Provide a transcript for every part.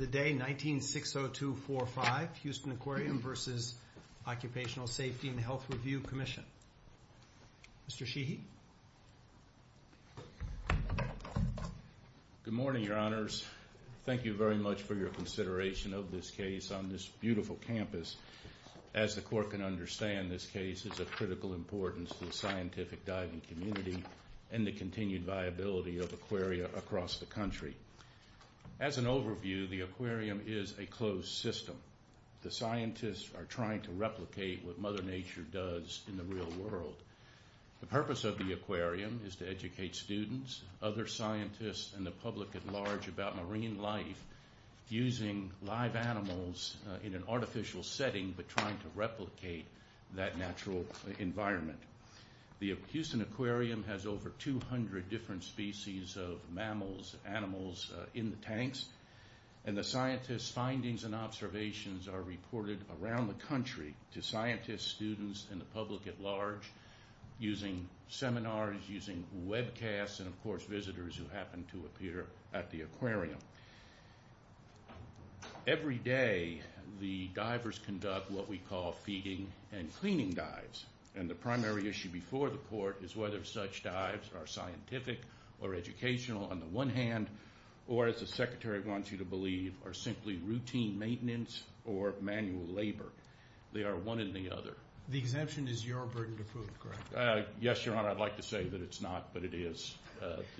19-60245, Houston Aquarium v. Occupational Safety and Health Review Commission. Mr. Sheehy. Good morning, Your Honors. Thank you very much for your consideration of this case on this beautiful campus. As the Court can understand, this case is of critical importance to the scientific diving community and the continued viability of Aquaria across the country. As an overview, the Aquarium is a closed system. The scientists are trying to replicate what Mother Nature does in the real world. The purpose of the Aquarium is to educate students, other scientists, and the public at large about marine life, using live animals in an artificial setting, but trying to replicate that natural environment. The Houston Aquarium has over 200 different species of mammals and animals in the tanks, and the scientists' findings and observations are reported around the country to scientists, students, and the public at large using seminars, using webcasts, and of course visitors who happen to appear at the Aquarium. Every day, the divers conduct what we call feeding and cleaning dives, and the primary issue before the Court is whether such dives are scientific or educational on the one hand, or, as the Secretary wants you to believe, are simply routine maintenance or manual labor. They are one and the other. The exemption is your burden to prove, correct? Yes, Your Honor, I'd like to say that it's not, but it is.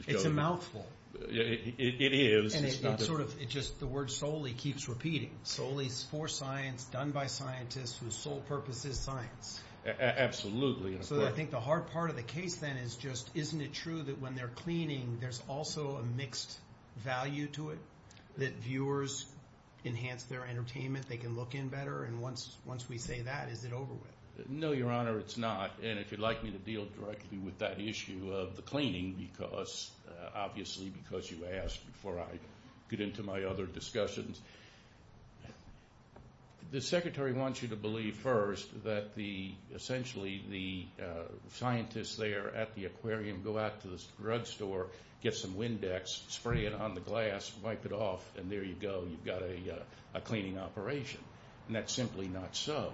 It's a mouthful. It is. And it sort of, it just, the word solely keeps repeating. Solely for science, done by scientists whose sole purpose is science. Absolutely. So I think the hard part of the case then is just, isn't it true that when they're cleaning, there's also a mixed value to it, that viewers enhance their entertainment, they can look in better, and once we say that, is it over with? No, Your Honor, it's not, and if you'd like me to deal directly with that issue of the cleaning, obviously because you asked before I get into my other discussions, the Secretary wants you to believe first that essentially the scientists there at the aquarium go out to the drugstore, get some Windex, spray it on the glass, wipe it off, and there you go, you've got a cleaning operation, and that's simply not so,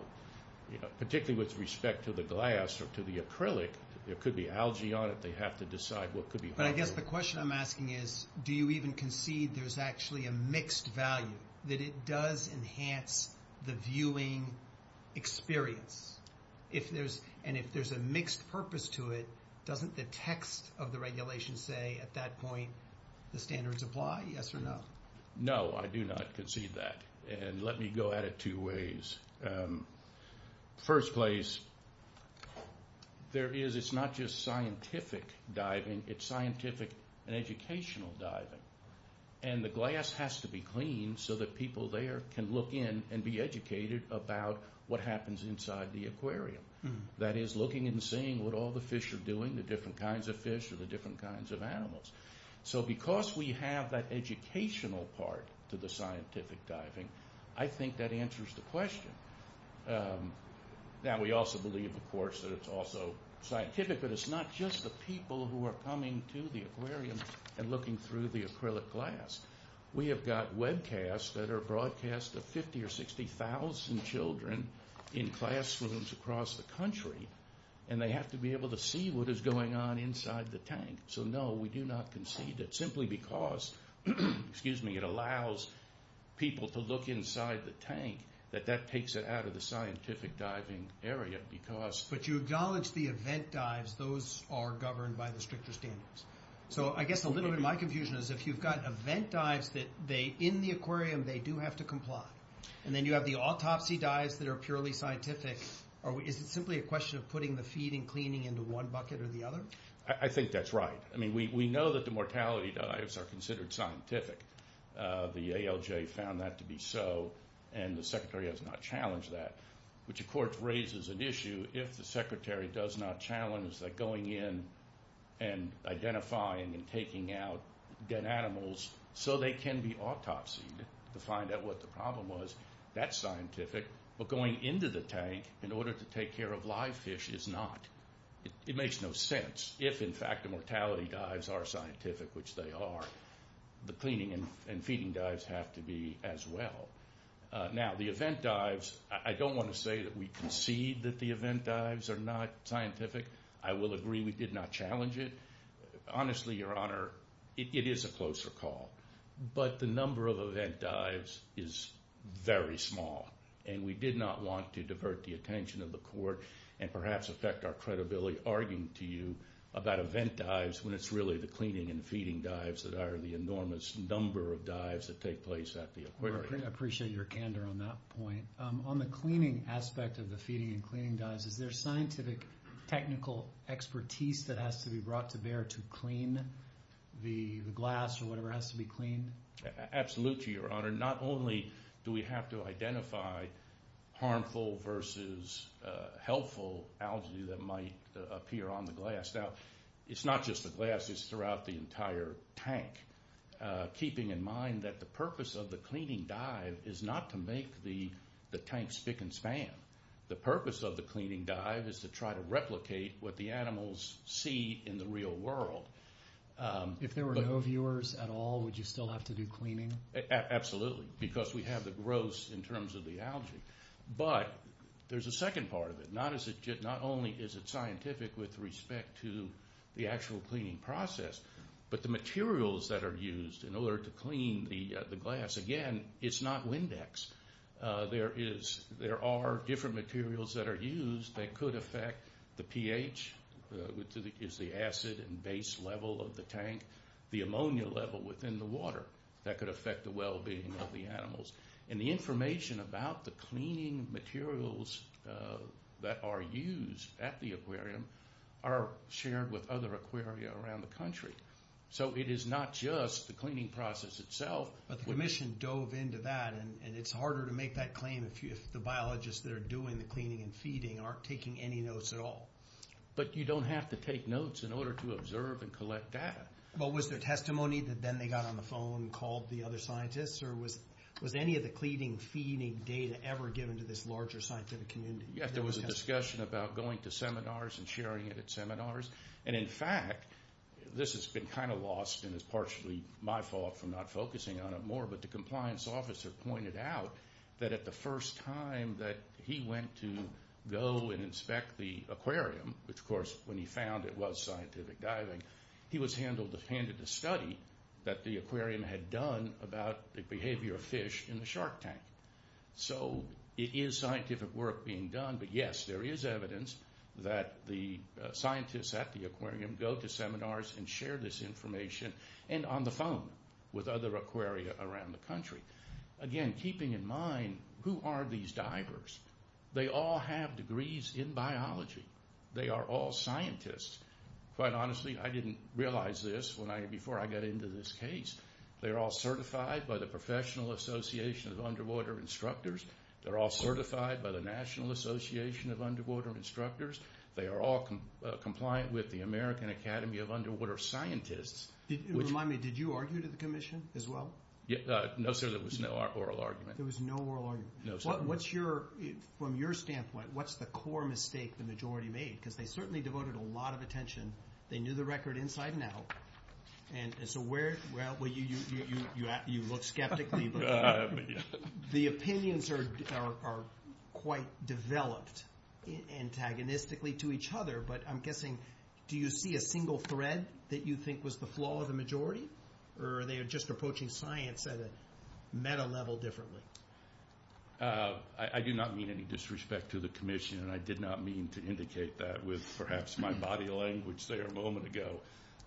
particularly with respect to the glass or to the acrylic. There could be algae on it. They have to decide what could be harmful. But I guess the question I'm asking is, do you even concede there's actually a mixed value, that it does enhance the viewing experience? And if there's a mixed purpose to it, doesn't the text of the regulation say at that point the standards apply, yes or no? No, I do not concede that, and let me go at it two ways. First place, there is, it's not just scientific diving, it's scientific and educational diving, and the glass has to be cleaned so that people there can look in and be educated about what happens inside the aquarium. That is, looking and seeing what all the fish are doing, the different kinds of fish or the different kinds of animals. So because we have that educational part to the scientific diving, I think that answers the question. Now, we also believe, of course, that it's also scientific, but it's not just the people who are coming to the aquarium and looking through the acrylic glass. We have got webcasts that are broadcast to 50,000 or 60,000 children in classrooms across the country, and they have to be able to see what is going on inside the tank. So no, we do not concede that, simply because it allows people to look inside the tank, that that takes it out of the scientific diving area, because... But you acknowledge the event dives, those are governed by the stricter standards. So I guess a little bit of my confusion is if you've got event dives that in the aquarium they do have to comply, and then you have the autopsy dives that are purely scientific, is it simply a question of putting the feeding and cleaning into one bucket or the other? I think that's right. I mean, we know that the mortality dives are considered scientific. The ALJ found that to be so, and the Secretary has not challenged that, which, of course, raises an issue if the Secretary does not challenge that going in and identifying and taking out dead animals so they can be autopsied to find out what the problem was, that's scientific, but going into the tank in order to take care of live fish is not. It makes no sense. If, in fact, the mortality dives are scientific, which they are, the cleaning and feeding dives have to be as well. Now, the event dives, I don't want to say that we concede that the event dives are not scientific. I will agree we did not challenge it. Honestly, Your Honor, it is a closer call, but the number of event dives is very small, and we did not want to divert the attention of the Court and perhaps affect our credibility arguing to you about event dives when it's really the cleaning and feeding dives that are the enormous number of dives that take place at the Aquarium. I appreciate your candor on that point. On the cleaning aspect of the feeding and cleaning dives, is there scientific technical expertise that has to be brought to bear to clean the glass or whatever has to be cleaned? Absolutely, Your Honor. Not only do we have to identify harmful versus helpful algae that might appear on the glass. Now, it's not just the glass. It's throughout the entire tank, keeping in mind that the purpose of the cleaning dive is not to make the tank spick and span. The purpose of the cleaning dive is to try to replicate what the animals see in the real world. If there were no viewers at all, would you still have to do cleaning? Absolutely, because we have the gross in terms of the algae. But there's a second part of it. Not only is it scientific with respect to the actual cleaning process, but the materials that are used in order to clean the glass. Again, it's not Windex. There are different materials that are used that could affect the pH, which is the acid and base level of the tank, the ammonia level within the water that could affect the well-being of the animals. And the information about the cleaning materials that are used at the aquarium are shared with other aquaria around the country. So it is not just the cleaning process itself. But the Commission dove into that, and it's harder to make that claim if the biologists that are doing the cleaning and feeding aren't taking any notes at all. But you don't have to take notes in order to observe and collect data. Well, was there testimony that then they got on the phone and called the other scientists? Or was any of the cleaning and feeding data ever given to this larger scientific community? Yes, there was a discussion about going to seminars and sharing it at seminars. And in fact, this has been kind of lost, and it's partially my fault for not focusing on it more. But the compliance officer pointed out that at the first time that he went to go and inspect the aquarium, which, of course, when he found it was scientific diving, he was handed a study that the aquarium had done about the behavior of fish in the shark tank. So it is scientific work being done, but yes, there is evidence that the scientists at the aquarium go to seminars and share this information. And on the phone with other aquaria around the country. Again, keeping in mind, who are these divers? They all have degrees in biology. They are all scientists. Quite honestly, I didn't realize this before I got into this case. They are all certified by the Professional Association of Underwater Instructors. They're all certified by the National Association of Underwater Instructors. They are all compliant with the American Academy of Underwater Scientists. Remind me, did you argue to the commission as well? No, sir, there was no oral argument. There was no oral argument. No, sir. What's your, from your standpoint, what's the core mistake the majority made? Because they certainly devoted a lot of attention. They knew the record inside and out. And so where, well, you look skeptically. The opinions are quite developed antagonistically to each other. But I'm guessing, do you see a single thread that you think was the flaw of the majority? Or are they just approaching science at a meta level differently? I do not mean any disrespect to the commission, and I did not mean to indicate that with perhaps my body language there a moment ago.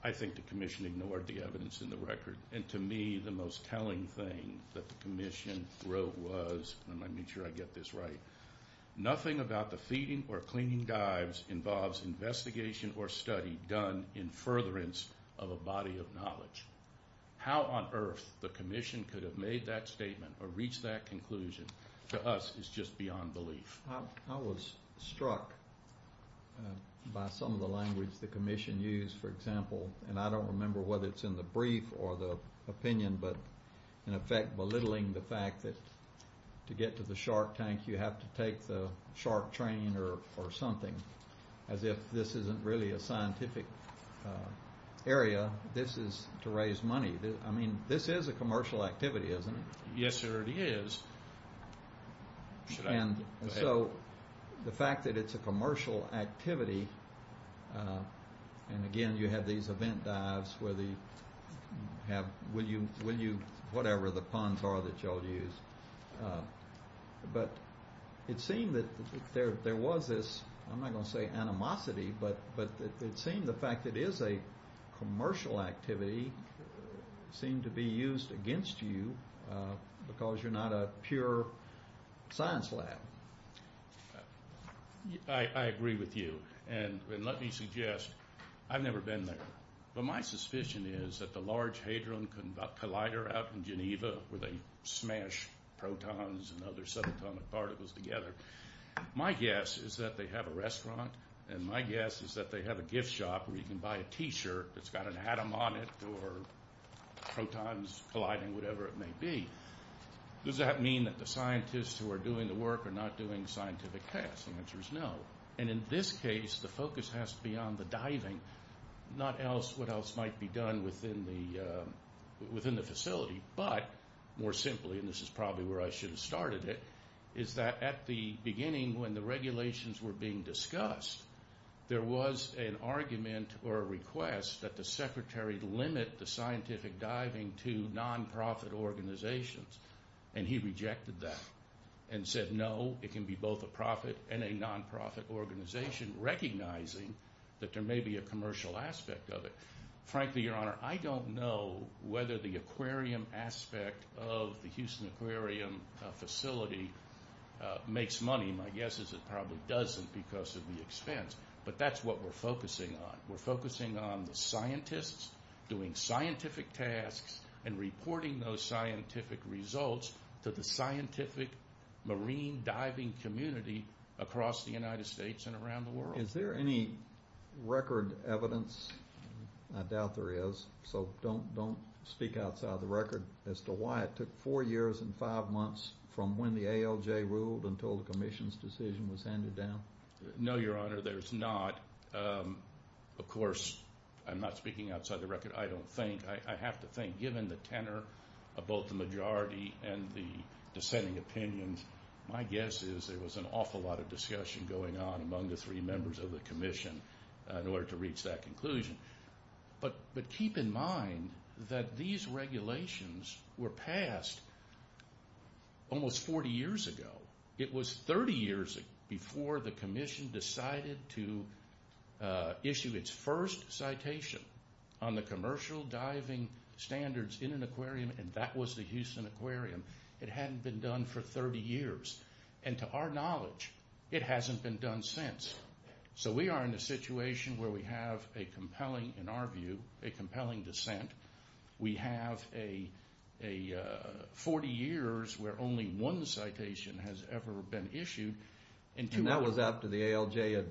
I think the commission ignored the evidence in the record. And to me, the most telling thing that the commission wrote was, and let me make sure I get this right, nothing about the feeding or cleaning dives involves investigation or study done in furtherance of a body of knowledge. How on earth the commission could have made that statement or reached that conclusion to us is just beyond belief. I was struck by some of the language the commission used, for example, and I don't remember whether it's in the brief or the opinion, but in effect belittling the fact that to get to the shark tank, you have to take the shark train or something, as if this isn't really a scientific area. This is to raise money. I mean, this is a commercial activity, isn't it? Yes, sir, it is. And so the fact that it's a commercial activity, and again, you have these event dives where they have, will you, whatever the puns are that you all use. But it seemed that there was this, I'm not going to say animosity, but it seemed the fact that it is a commercial activity seemed to be used against you because you're not a pure science lab. I agree with you, and let me suggest, I've never been there, but my suspicion is that the Large Hadron Collider out in Geneva where they smash protons and other subatomic particles together, my guess is that they have a restaurant, and my guess is that they have a gift shop where you can buy a T-shirt that's got an atom on it or protons colliding, whatever it may be. Does that mean that the scientists who are doing the work are not doing scientific testing? The answer is no. And in this case, the focus has to be on the diving, not what else might be done within the facility, but more simply, and this is probably where I should have started it, is that at the beginning when the regulations were being discussed, there was an argument or a request that the secretary limit the scientific diving to non-profit organizations, and he rejected that and said no, it can be both a profit and a non-profit organization, recognizing that there may be a commercial aspect of it. Frankly, Your Honor, I don't know whether the aquarium aspect of the Houston Aquarium facility makes money. My guess is it probably doesn't because of the expense, but that's what we're focusing on. We're focusing on the scientists doing scientific tasks and reporting those scientific results to the scientific marine diving community across the United States and around the world. Is there any record evidence? I doubt there is, so don't speak outside the record as to why it took four years and five months from when the ALJ ruled until the commission's decision was handed down. No, Your Honor, there's not. Of course, I'm not speaking outside the record. I don't think. I have to think. Given the tenor of both the majority and the dissenting opinions, my guess is there was an awful lot of discussion going on among the three members of the commission in order to reach that conclusion. Keep in mind that these regulations were passed almost 40 years ago. It was 30 years before the commission decided to issue its first citation on the commercial diving standards in an aquarium, and that was the Houston Aquarium. It hadn't been done for 30 years. To our knowledge, it hasn't been done since. So we are in a situation where we have a compelling, in our view, a compelling dissent. We have 40 years where only one citation has ever been issued. And that was after the ALJ had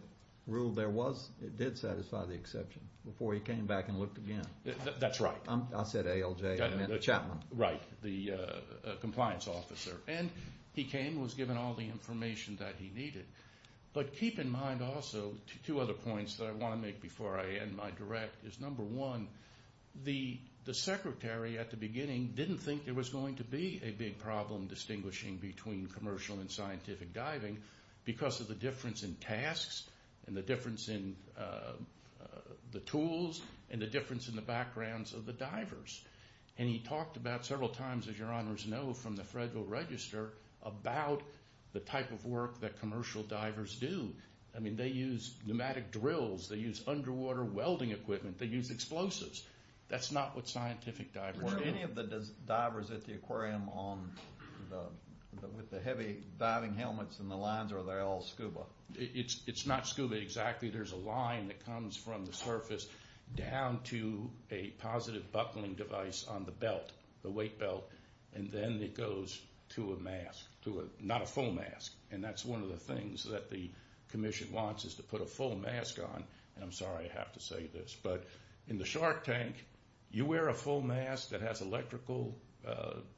ruled it did satisfy the exception, before he came back and looked again. That's right. I said ALJ, I meant Chapman. Right, the compliance officer. And he came and was given all the information that he needed. But keep in mind also two other points that I want to make before I end my direct is, number one, the secretary at the beginning didn't think there was going to be a big problem distinguishing between commercial and scientific diving because of the difference in tasks and the difference in the tools and the difference in the backgrounds of the divers. And he talked about several times, as your honors know from the Federal Register, about the type of work that commercial divers do. I mean, they use pneumatic drills. They use underwater welding equipment. They use explosives. That's not what scientific divers do. Were any of the divers at the aquarium with the heavy diving helmets and the lines, or are they all scuba? It's not scuba exactly. There's a line that comes from the surface down to a positive buckling device on the belt, the weight belt, and then it goes to a mask, not a full mask. And that's one of the things that the commission wants is to put a full mask on. And I'm sorry I have to say this, but in the shark tank, you wear a full mask that has electrical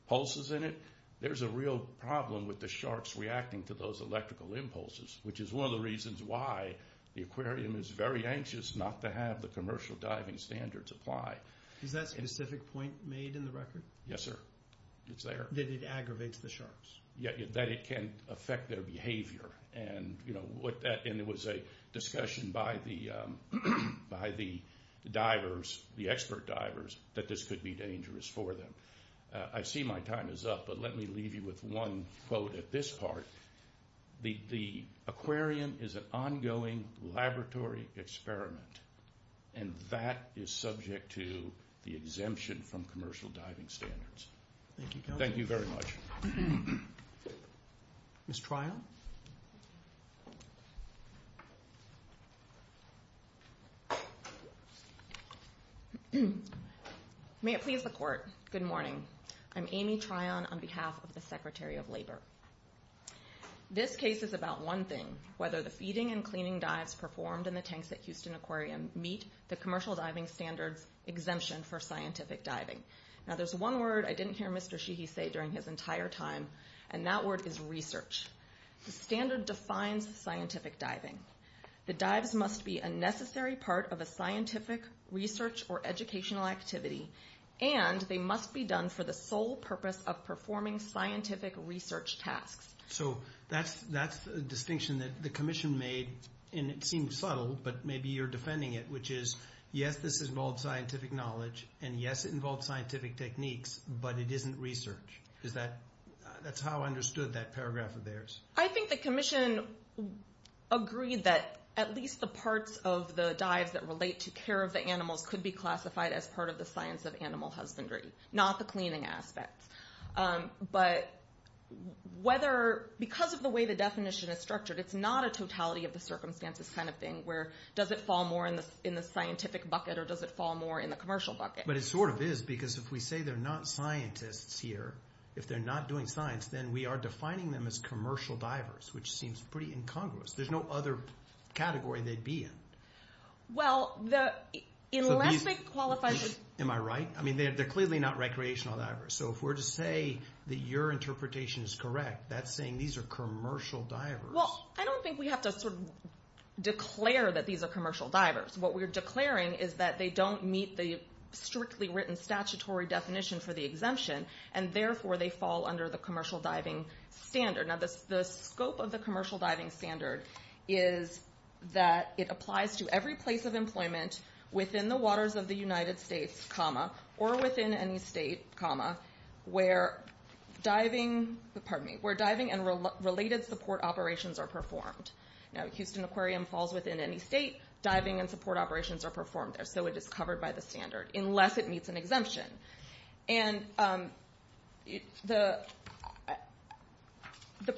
pulses in it, there's a real problem with the sharks reacting to those electrical impulses, which is one of the reasons why the aquarium is very anxious not to have the commercial diving standards apply. Is that specific point made in the record? Yes, sir. It's there. That it aggravates the sharks. That it can affect their behavior. And it was a discussion by the divers, the expert divers, that this could be dangerous for them. I see my time is up, but let me leave you with one quote at this part. The aquarium is an ongoing laboratory experiment, and that is subject to the exemption from commercial diving standards. Thank you, Governor. Thank you very much. Ms. Tryon? May it please the Court, good morning. I'm Amy Tryon on behalf of the Secretary of Labor. This case is about one thing, whether the feeding and cleaning dives performed in the tanks at Houston Aquarium meet the commercial diving standards exemption for scientific diving. Now, there's one word I didn't hear Mr. Sheehy say during his entire time, and that word is research. The standard defines scientific diving. The dives must be a necessary part of a scientific research or educational activity, and they must be done for the sole purpose of performing scientific research tasks. So that's a distinction that the commission made, and it seems subtle, but maybe you're defending it, which is, yes, this involves scientific knowledge, and yes, it involves scientific techniques, but it isn't research. That's how I understood that paragraph of theirs. I think the commission agreed that at least the parts of the dives that relate to care of the animals could be classified as part of the science of animal husbandry, not the cleaning aspects. But because of the way the definition is structured, it's not a totality of the circumstances kind of thing, where does it fall more in the scientific bucket or does it fall more in the commercial bucket? But it sort of is, because if we say they're not scientists here, if they're not doing science, then we are defining them as commercial divers, which seems pretty incongruous. There's no other category they'd be in. Well, unless they qualify as... Am I right? I mean, they're clearly not recreational divers. So if we're to say that your interpretation is correct, that's saying these are commercial divers. Well, I don't think we have to sort of declare that these are commercial divers. What we're declaring is that they don't meet the strictly written statutory definition for the exemption, and therefore they fall under the commercial diving standard. Now, the scope of the commercial diving standard is that it applies to every place of employment within the waters of the United States, comma, or within any state, comma, where diving and related support operations are performed. Now, Houston Aquarium falls within any state. Diving and support operations are performed there. So it is covered by the standard, unless it meets an exemption. And the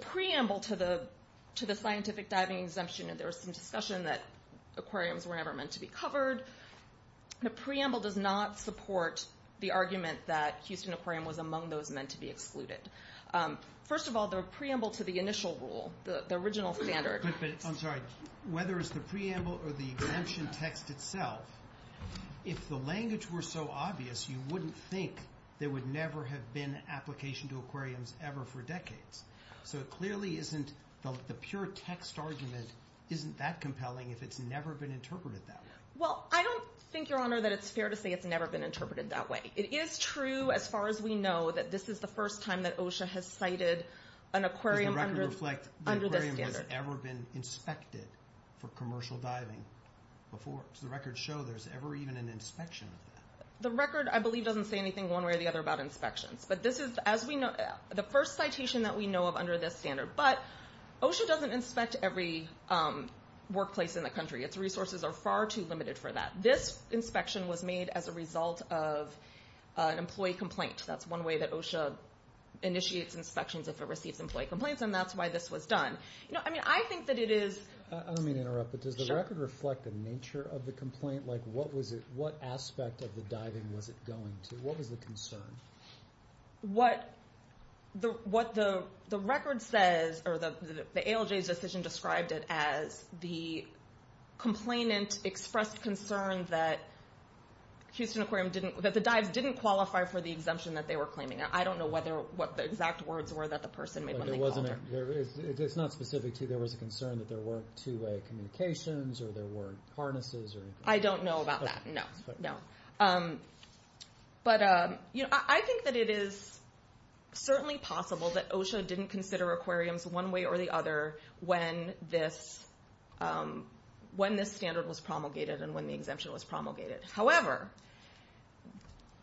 preamble to the scientific diving exemption, there was some discussion that aquariums were never meant to be covered. The preamble does not support the argument that Houston Aquarium was among those meant to be excluded. First of all, the preamble to the initial rule, the original standard... I'm sorry. Whether it's the preamble or the exemption text itself, if the language were so obvious, you wouldn't think there would never have been application to aquariums ever for decades. So it clearly isn't the pure text argument isn't that compelling if it's never been interpreted that way. Well, I don't think, Your Honor, that it's fair to say it's never been interpreted that way. It is true, as far as we know, that this is the first time that OSHA has cited an aquarium under this standard. Does the record reflect the aquarium has ever been inspected for commercial diving before? Does the record show there's ever even an inspection of that? The record, I believe, doesn't say anything one way or the other about inspections. But this is, as we know, the first citation that we know of under this standard. But OSHA doesn't inspect every workplace in the country. Its resources are far too limited for that. This inspection was made as a result of an employee complaint. That's one way that OSHA initiates inspections if it receives employee complaints, and that's why this was done. I think that it is... I don't mean to interrupt, but does the record reflect the nature of the complaint? What aspect of the diving was it going to? What was the concern? What the record says, or the ALJ's decision described it as, the complainant expressed concern that the dives didn't qualify for the exemption that they were claiming. I don't know what the exact words were that the person made when they called her. It's not specific to there was a concern that there weren't two-way communications or there weren't harnesses or anything? I don't know about that, no. But I think that it is certainly possible that OSHA didn't consider aquariums one way or the other when this standard was promulgated and when the exemption was promulgated. However,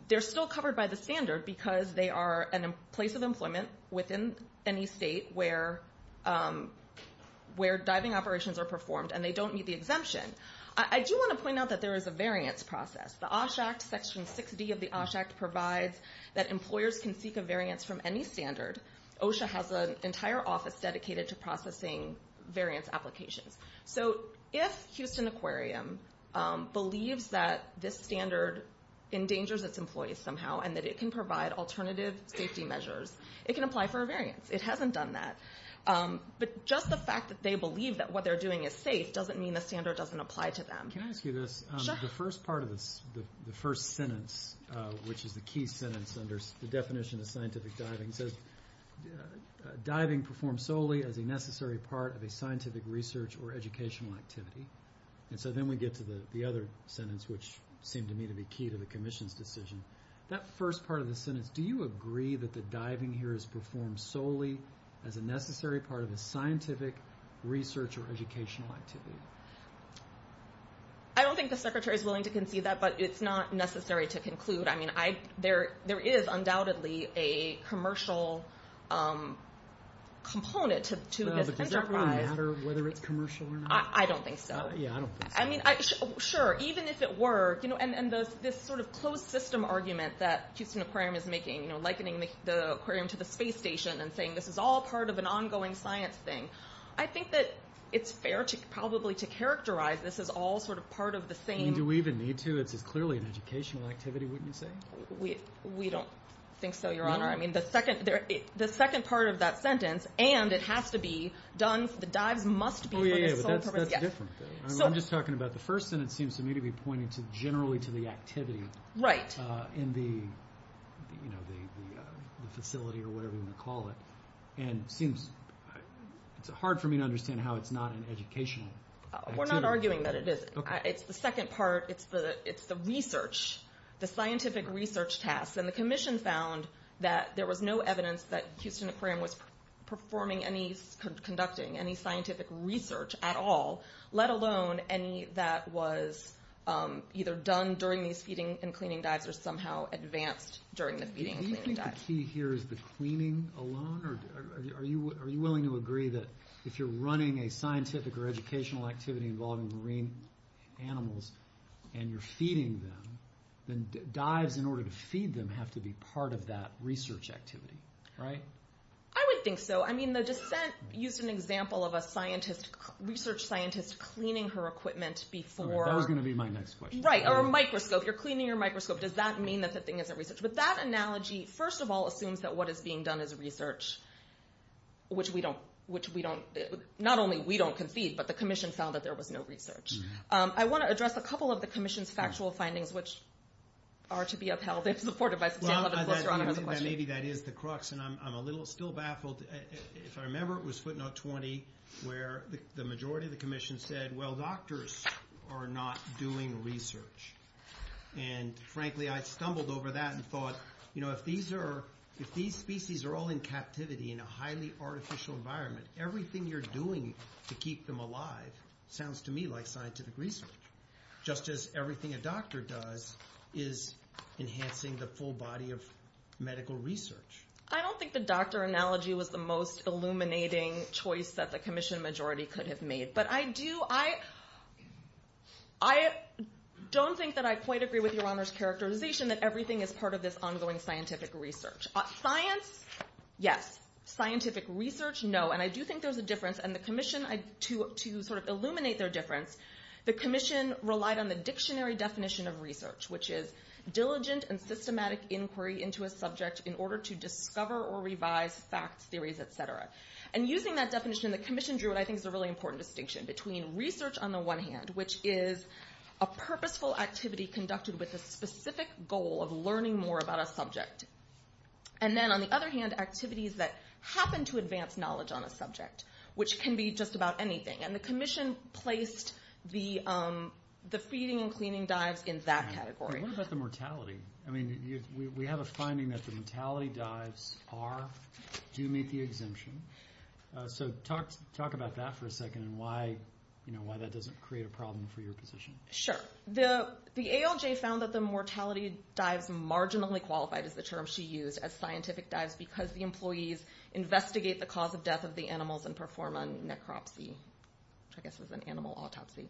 they're still covered by the standard because they are a place of employment within any state where diving operations are performed, and they don't meet the exemption. I do want to point out that there is a variance process. The OSHA Act, Section 6D of the OSHA Act, provides that employers can seek a variance from any standard. OSHA has an entire office dedicated to processing variance applications. So if Houston Aquarium believes that this standard endangers its employees somehow and that it can provide alternative safety measures, it can apply for a variance. It hasn't done that. But just the fact that they believe that what they're doing is safe doesn't mean the standard doesn't apply to them. Can I ask you this? Sure. The first part of this, the first sentence, which is the key sentence under the definition of scientific diving, says, diving performed solely as a necessary part of a scientific research or educational activity. And so then we get to the other sentence, which seemed to me to be key to the Commission's decision. That first part of the sentence, do you agree that the diving here is performed solely as a necessary part of a scientific research or educational activity? I don't think the Secretary is willing to concede that, but it's not necessary to conclude. I mean, there is undoubtedly a commercial component to this enterprise. Does it really matter whether it's commercial or not? I don't think so. Yeah, I don't think so. I mean, sure, even if it were. And this sort of closed system argument that Houston Aquarium is making, likening the aquarium to the space station and saying this is all part of an ongoing science thing, I think that it's fair probably to characterize this as all sort of part of the same... I mean, do we even need to? It's clearly an educational activity, wouldn't you say? We don't think so, Your Honor. I mean, the second part of that sentence, and it has to be done, the dives must be... Oh, yeah, yeah, but that's a different thing. I'm just talking about the first sentence seems to me to be pointing generally to the activity in the facility or whatever you want to call it. And it's hard for me to understand how it's not an educational activity. We're not arguing that it is. It's the second part. It's the research, the scientific research tasks. And the commission found that there was no evidence that Houston Aquarium was performing any, conducting any scientific research at all, let alone any that was either done during these feeding and cleaning dives or somehow advanced during the feeding and cleaning dives. The key here is the cleaning alone? Are you willing to agree that if you're running a scientific or educational activity involving marine animals and you're feeding them, then dives in order to feed them have to be part of that research activity, right? I would think so. I mean, the dissent used an example of a scientist, research scientist cleaning her equipment before... That was going to be my next question. Right, or a microscope. You're cleaning your microscope. Does that mean that the thing isn't researched? But that analogy, first of all, assumes that what is being done is research, which we don't, which we don't, not only we don't concede, but the commission found that there was no research. I want to address a couple of the commission's factual findings, which are to be upheld and supported by... Well, I think that maybe that is the crux, and I'm a little still baffled. If I remember, it was footnote 20, where the majority of the commission said, well, doctors are not doing research. And frankly, I stumbled over that and thought, you know, if these species are all in captivity in a highly artificial environment, everything you're doing to keep them alive sounds to me like scientific research, just as everything a doctor does is enhancing the full body of medical research. I don't think the doctor analogy was the most illuminating choice that the commission majority could have made, but I do, I... I don't think that I quite agree with Your Honor's characterization that everything is part of this ongoing scientific research. Science, yes. Scientific research, no. And I do think there's a difference, and the commission, to sort of illuminate their difference, the commission relied on the dictionary definition of research, which is diligent and systematic inquiry into a subject in order to discover or revise facts, theories, et cetera. And using that definition, the commission drew what I think is a really important distinction between research on the one hand, which is a purposeful activity conducted with a specific goal of learning more about a subject, and then on the other hand, activities that happen to advance knowledge on a subject, which can be just about anything. And the commission placed the feeding and cleaning dives in that category. But what about the mortality? I mean, we have a finding that the mortality dives do meet the exemption. So talk about that for a second and why that doesn't create a problem for your position. Sure. The ALJ found that the mortality dives marginally qualified is the term she used, as scientific dives because the employees investigate the cause of death of the animals and perform a necropsy, which I guess is an animal autopsy.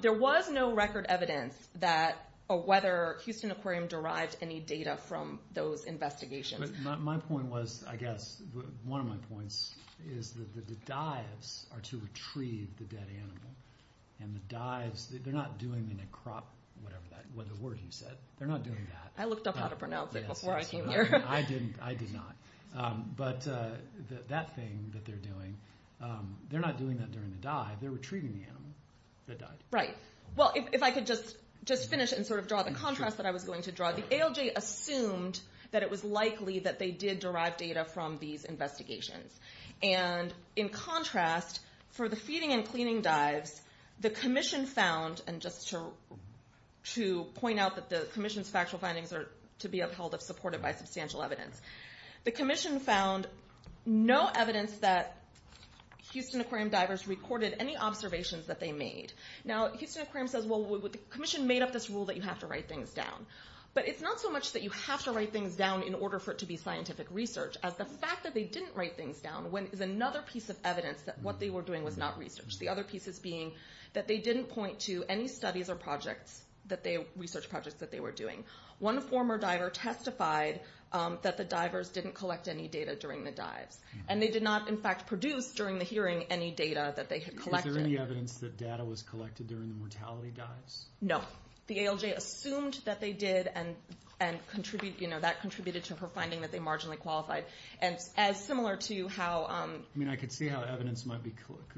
There was no record evidence that or whether Houston Aquarium derived any data from those investigations. My point was, I guess, one of my points is that the dives are to retrieve the dead animal. And the dives, they're not doing the necrop, whatever the word you said. They're not doing that. I looked up how to pronounce it before I came here. I did not. But that thing that they're doing, they're not doing that during the dive. They're retrieving the animal that died. Well, if I could just finish and sort of draw the contrast that I was going to draw. The ALJ assumed that it was likely that they did derive data from these investigations. And in contrast, for the feeding and cleaning dives, the commission found, and just to point out that the commission's factual findings are to be upheld if supported by substantial evidence. The commission found no evidence that Houston Aquarium divers recorded any observations that they made. Now, Houston Aquarium says, well, the commission made up this rule that you have to write things down. But it's not so much that you have to write things down in order for it to be scientific research, as the fact that they didn't write things down is another piece of evidence that what they were doing was not research. The other piece is being that they didn't point to any studies or research projects that they were doing. One former diver testified that the divers didn't collect any data during the dives. And they did not, in fact, produce during the hearing any data that they had collected. Was there any evidence that data was collected during the mortality dives? No. The ALJ assumed that they did, and that contributed to her finding that they marginally qualified. And as similar to how... I mean, I could see how evidence might be...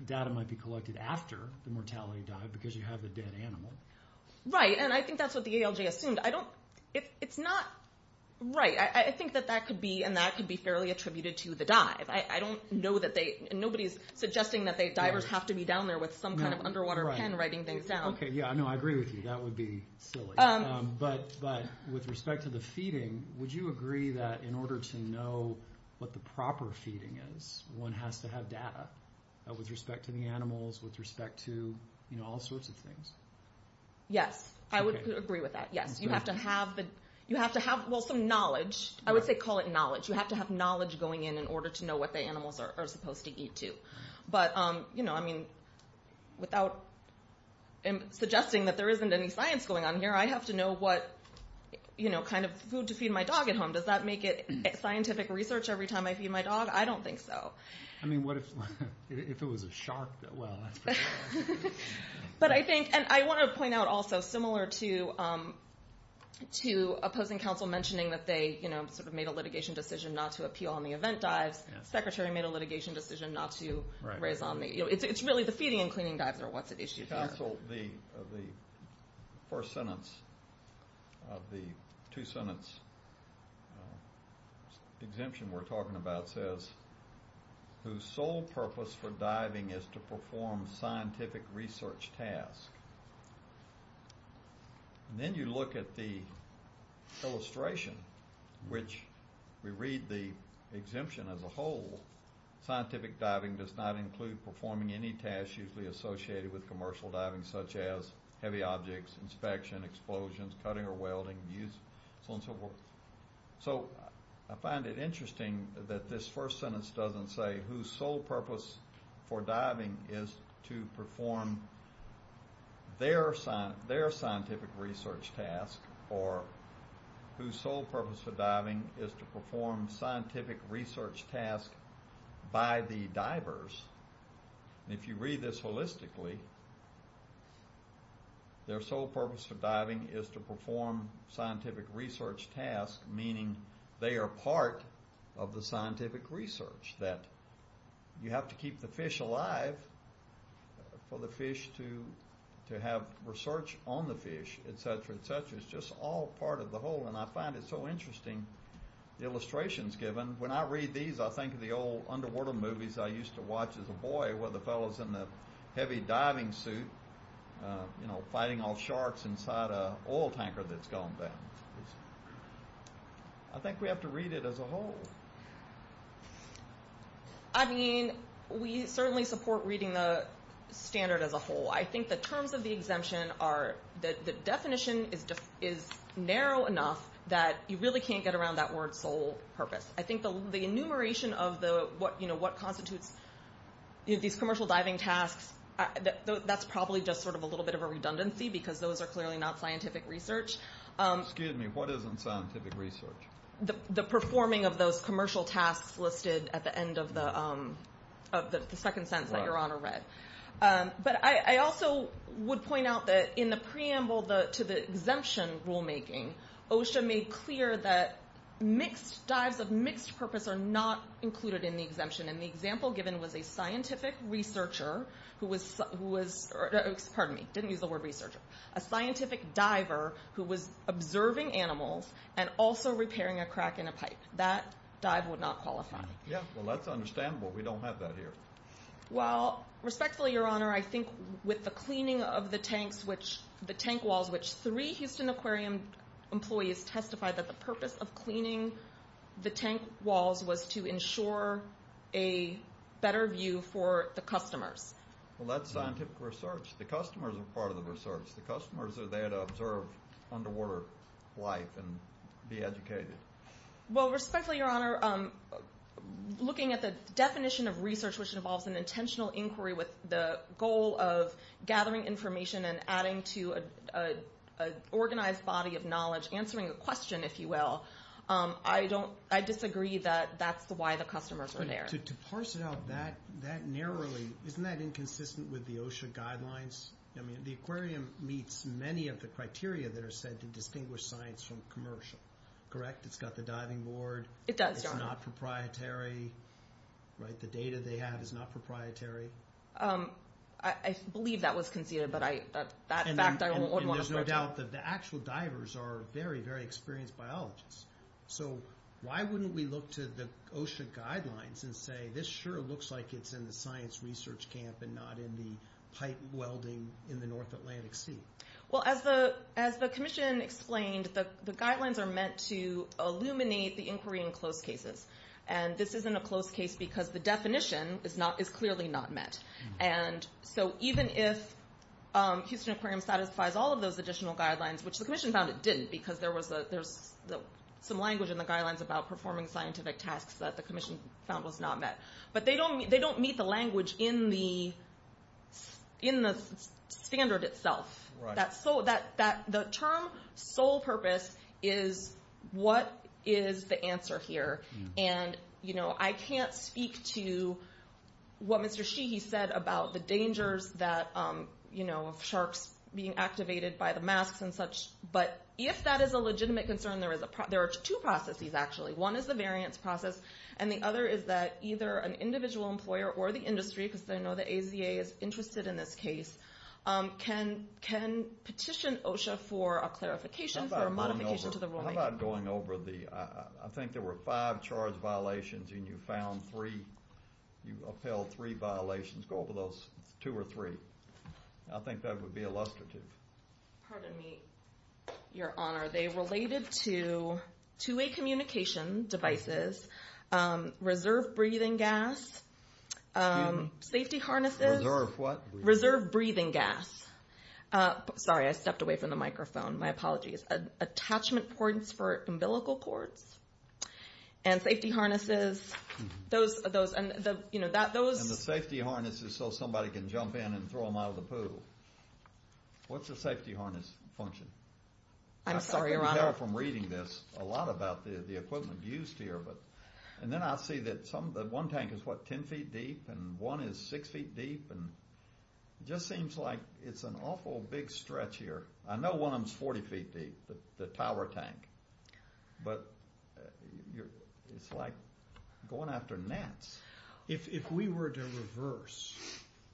Data might be collected after the mortality dive because you have the dead animal. Right, and I think that's what the ALJ assumed. I don't... It's not... Right, I think that that could be, and that could be fairly attributed to the dive. I don't know that they... Nobody's suggesting that divers have to be down there with some kind of underwater pen writing things down. Okay, yeah, no, I agree with you. That would be silly. But with respect to the feeding, would you agree that in order to know what the proper feeding is, one has to have data with respect to the animals, with respect to all sorts of things? Yes, I would agree with that, yes. You have to have the... You have to have, well, some knowledge. I would say call it knowledge. You have to have knowledge going in in order to know what the animals are supposed to eat, too. But, you know, I mean, without suggesting that there isn't any science going on here, I have to know what, you know, kind of food to feed my dog at home. Does that make it scientific research every time I feed my dog? I don't think so. I mean, what if it was a shark? Well, that's pretty... But I think, and I want to point out also, similar to opposing counsel mentioning that they, you know, sort of made a litigation decision not to appeal on the event dives, the secretary made a litigation decision not to raise on the... You know, it's really the feeding and cleaning dives are what's at issue here. Counsel, the first sentence of the two-sentence exemption we're talking about says, whose sole purpose for diving is to perform scientific research tasks. And then you look at the illustration, which we read the exemption as a whole, scientific diving does not include performing any tasks usually associated with commercial diving, such as heavy objects, inspection, explosions, cutting or welding, use, so on and so forth. So I find it interesting that this first sentence doesn't say whose sole purpose for diving is to perform their scientific research task, or whose sole purpose for diving is to perform scientific research tasks by the divers. And if you read this holistically, their sole purpose for diving is to perform scientific research tasks, meaning they are part of the scientific research, that you have to keep the fish alive for the fish to have research on the fish, et cetera, et cetera. It's just all part of the whole, and I find it so interesting, the illustrations given. When I read these, I think of the old underwater movies I used to watch as a boy with the fellows in the heavy diving suit, you know, fighting off sharks inside an oil tanker that's gone bad. I think we have to read it as a whole. I mean, we certainly support reading the standard as a whole. I think the terms of the exemption are, the definition is narrow enough that you really can't get around that word sole purpose. I think the enumeration of what constitutes these commercial diving tasks, that's probably just sort of a little bit of a redundancy because those are clearly not scientific research. Excuse me, what isn't scientific research? The performing of those commercial tasks listed at the end of the second sentence that Your Honor read. But I also would point out that in the preamble to the exemption rulemaking, OSHA made clear that mixed dives of mixed purpose are not included in the exemption. And the example given was a scientific researcher who was, pardon me, didn't use the word researcher, a scientific diver who was observing animals and also repairing a crack in a pipe. That dive would not qualify. Yeah, well, that's understandable. We don't have that here. Well, respectfully, Your Honor, I think with the cleaning of the tanks, the tank walls, which three Houston Aquarium employees testified that the purpose of cleaning the tank walls was to ensure a better view for the customers. Well, that's scientific research. The customers are part of the research. The customers are there to observe underwater life and be educated. Well, respectfully, Your Honor, looking at the definition of research which involves an intentional inquiry with the goal of gathering information and adding to an organized body of knowledge, answering a question, if you will, I disagree that that's why the customers are there. To parse it out that narrowly, isn't that inconsistent with the OSHA guidelines? I mean, the aquarium meets many of the criteria that are said to distinguish science from commercial. Correct? It's got the diving board. It does, Your Honor. It's not proprietary. Right? The data they have is not proprietary. I believe that was conceded, but that fact I wouldn't want to go to. And there's no doubt that the actual divers are very, very experienced biologists. So why wouldn't we look to the OSHA guidelines and say this sure looks like it's in the science research camp and not in the pipe welding in the North Atlantic Sea? Well, as the commission explained, the guidelines are meant to illuminate the inquiry in close cases. And this isn't a close case because the definition is clearly not met. And so even if Houston Aquarium satisfies all of those additional guidelines, which the commission found it didn't because there's some language in the guidelines about performing scientific tasks that the commission found was not met. But they don't meet the language in the standard itself. Right. The term sole purpose is what is the answer here. And I can't speak to what Mr. Sheehy said about the dangers of sharks being activated by the masks and such. But if that is a legitimate concern, there are two processes, actually. One is the variance process. And the other is that either an individual employer or the industry, because I know the AZA is interested in this case, can petition OSHA for a clarification, for a modification to the ruling. How about going over the, I think there were five charge violations and you found three, you upheld three violations. Go over those two or three. I think that would be illustrative. Pardon me, Your Honor. They related to two-way communication devices, reserve breathing gas, safety harnesses. Reserve what? Reserve breathing gas. Sorry, I stepped away from the microphone. My apologies. Attachment points for umbilical cords and safety harnesses. Those, you know, those. And the safety harness is so somebody can jump in and throw them out of the pool. What's a safety harness function? I'm sorry, Your Honor. I think we have from reading this a lot about the equipment used here. And then I see that some, that one tank is what, 10 feet deep? And one is six feet deep? And it just seems like it's an awful big stretch here. I know one of them is 40 feet deep, the tower tank. But it's like going after gnats. If we were to reverse,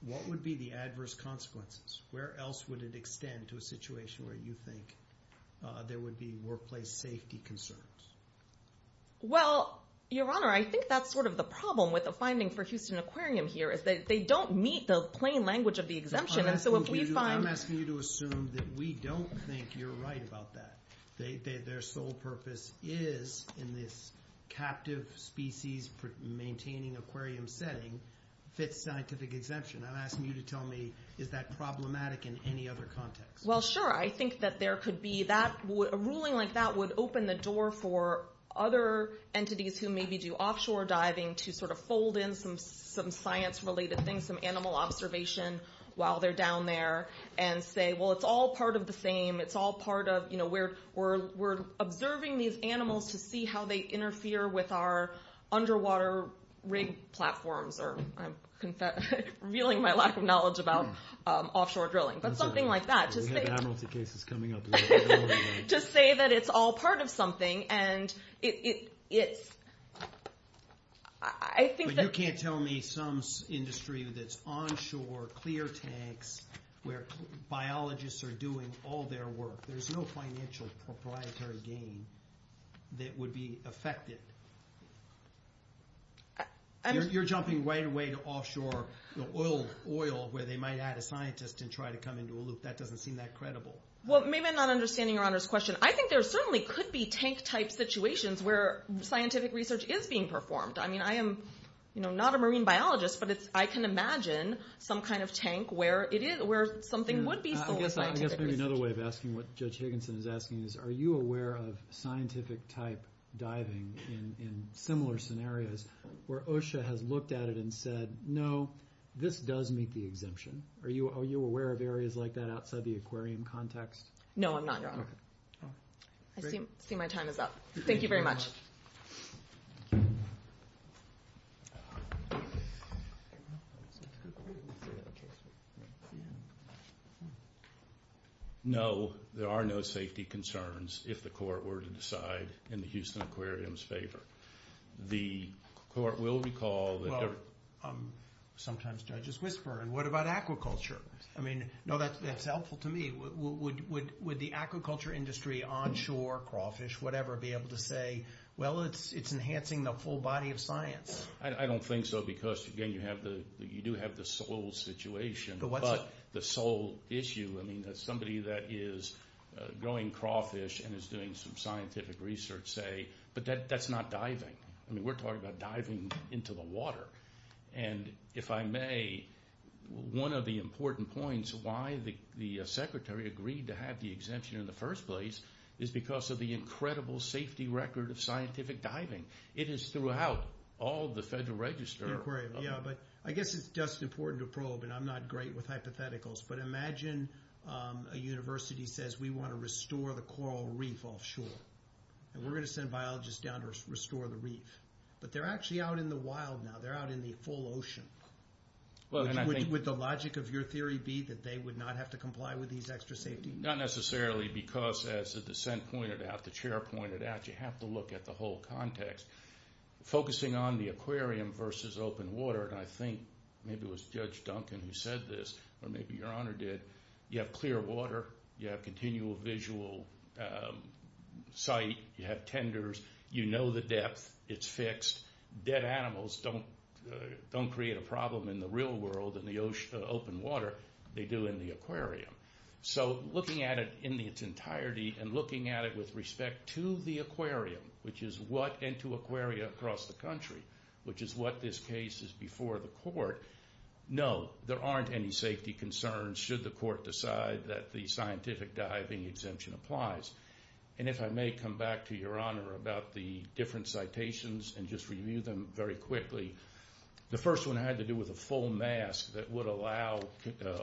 what would be the adverse consequences? Where else would it extend to a situation where you think there would be workplace safety concerns? Well, Your Honor, I think that's sort of the problem with the finding for Houston Aquarium here is that they don't meet the plain language of the exemption. I'm asking you to assume that we don't think you're right about that. Their sole purpose is in this captive species maintaining aquarium setting fits scientific exemption. I'm asking you to tell me is that problematic in any other context? Well, sure. I think that there could be that. A ruling like that would open the door for other entities who maybe do offshore diving to sort of fold in some science-related things, some animal observation while they're down there and say, well, it's all part of the same. It's all part of, we're observing these animals to see how they interfere with our underwater rig platforms or I'm revealing my lack of knowledge about offshore drilling, but something like that. We have admiralty cases coming up. To say that it's all part of something and it's... I think that... But you can't tell me some industry that's onshore, clear tanks, where biologists are doing all their work. There's no financial proprietary gain that would be affected. You're jumping right away to offshore oil where they might add a scientist and try to come into a loop. That doesn't seem that credible. Well, maybe I'm not understanding Your Honor's question. I think there certainly could be tank-type situations where scientific research is being performed. I mean, I am not a marine biologist, but I can imagine some kind of tank where something would be still scientific research. I guess maybe another way of asking what Judge Higginson is asking is, are you aware of scientific-type diving in similar scenarios where OSHA has looked at it and said, no, this does meet the exemption? Are you aware of areas like that outside the aquarium context? No, I'm not, Your Honor. I see my time is up. Thank you very much. Thank you. No, there are no safety concerns if the court were to decide in the Houston Aquarium's favor. The court will recall that there... Well, sometimes judges whisper, and what about aquaculture? I mean, no, that's helpful to me. Would the aquaculture industry, onshore, crawfish, whatever, be able to say, well, it's enhancing the full body of science? I don't think so because, again, you do have the soil situation, but the soil issue, I mean, somebody that is growing crawfish and is doing some scientific research, say, but that's not diving. I mean, we're talking about diving into the water. And if I may, one of the important points why the Secretary agreed to have the exemption in the first place is because of the incredible safety record of scientific diving. It is throughout all the Federal Register. The Aquarium, yeah, but I guess it's just important to probe, and I'm not great with hypotheticals, but imagine a university says, we want to restore the coral reef offshore, and we're going to send biologists down to restore the reef. But they're actually out in the wild now. They're out in the full ocean. Would the logic of your theory be that they would not have to comply with these extra safety measures? Not necessarily because, as the dissent pointed out, the chair pointed out, you have to look at the whole context. Focusing on the aquarium versus open water, and I think maybe it was Judge Duncan who said this, or maybe Your Honor did, you have clear water. You have continual visual sight. You have tenders. You know the depth. Dead animals don't create a problem in the real world in the open water. They do in the aquarium. So looking at it in its entirety and looking at it with respect to the aquarium, which is what, and to aquaria across the country, which is what this case is before the court, no, there aren't any safety concerns should the court decide that the scientific diving exemption applies. And if I may come back to Your Honor about the different citations and just review them very quickly. The first one had to do with a full mask that would allow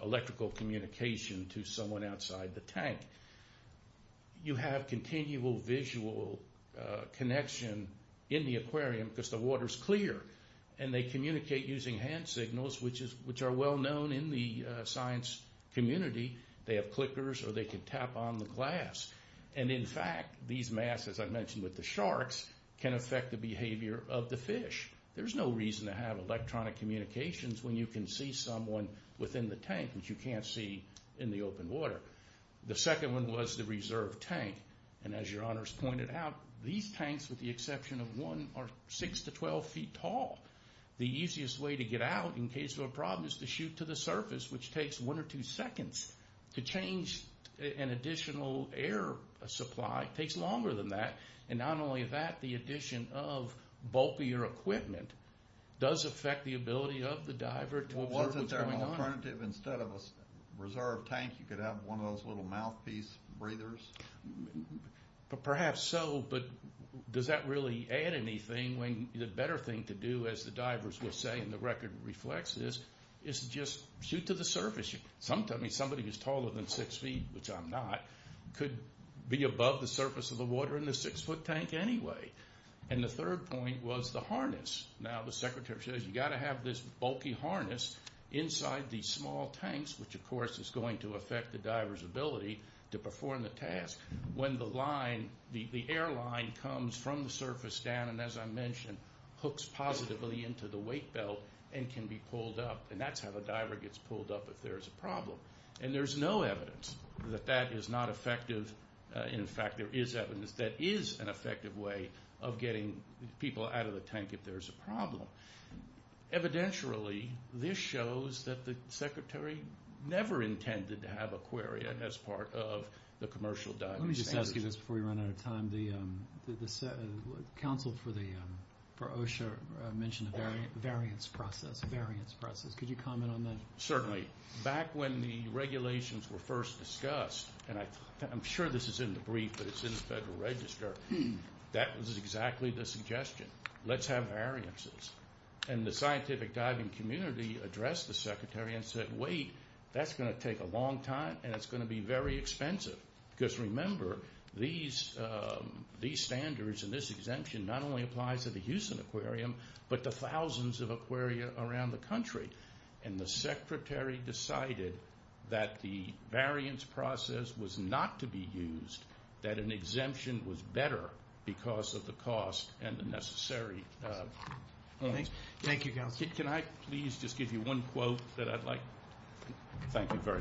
electrical communication to someone outside the tank. You have continual visual connection in the aquarium because the water's clear and they communicate using hand signals which are well known in the science community. They have clickers or they can tap on the glass. And in fact, these masks, as I mentioned with the sharks, can affect the behavior of the fish. There's no reason to have electronic communications when you can see someone within the tank which you can't see in the open water. The second one was the reserve tank. And as Your Honor's pointed out, these tanks, with the exception of one, are six to 12 feet tall. The easiest way to get out in case of a problem is to shoot to the surface which takes one or two seconds. To change an additional air supply takes longer than that. And not only that, the addition of bulkier equipment does affect the ability of the diver to observe what's going on. Wasn't there an alternative instead of a reserve tank you could have one of those little mouthpiece breathers? Perhaps so, but does that really add anything when the better thing to do, as the divers were saying and the record reflects this, is just shoot to the surface. Somebody who's taller than six feet, could be above the surface of the water in a six foot tank anyway. And the third point was the harness. Now the secretary says you've got to have this bulky harness inside these small tanks, which of course is going to affect the diver's ability to perform the task when the airline comes from the surface down and as I mentioned, hooks positively into the weight belt and can be pulled up. And that's how the diver gets pulled up if there's a problem. And there's no evidence that that is not effective. In fact, there is evidence that is an effective way of getting people out of the tank if there's a problem. Evidentially, this shows that the secretary never intended to have Aquaria as part of the commercial diving standards. Let me just ask you this before we run out of time. The council for OSHA mentioned a variance process. Could you comment on that? Certainly. Back when the regulations were first discussed, and I'm sure this is in the brief, but it's in the Federal Register, that was exactly the suggestion. Let's have variances. And the scientific diving community addressed the secretary and said, wait, that's going to take a long time and it's going to be very expensive. Because remember, these standards and this exemption not only applies to the Houston Aquarium, but the thousands of Aquaria around the country. And the secretary decided that the variance process was not to be used, that an exemption was better because of the cost and the necessary... Thank you, councilor. Can I please just give you one quote that I'd like... Thank you very much.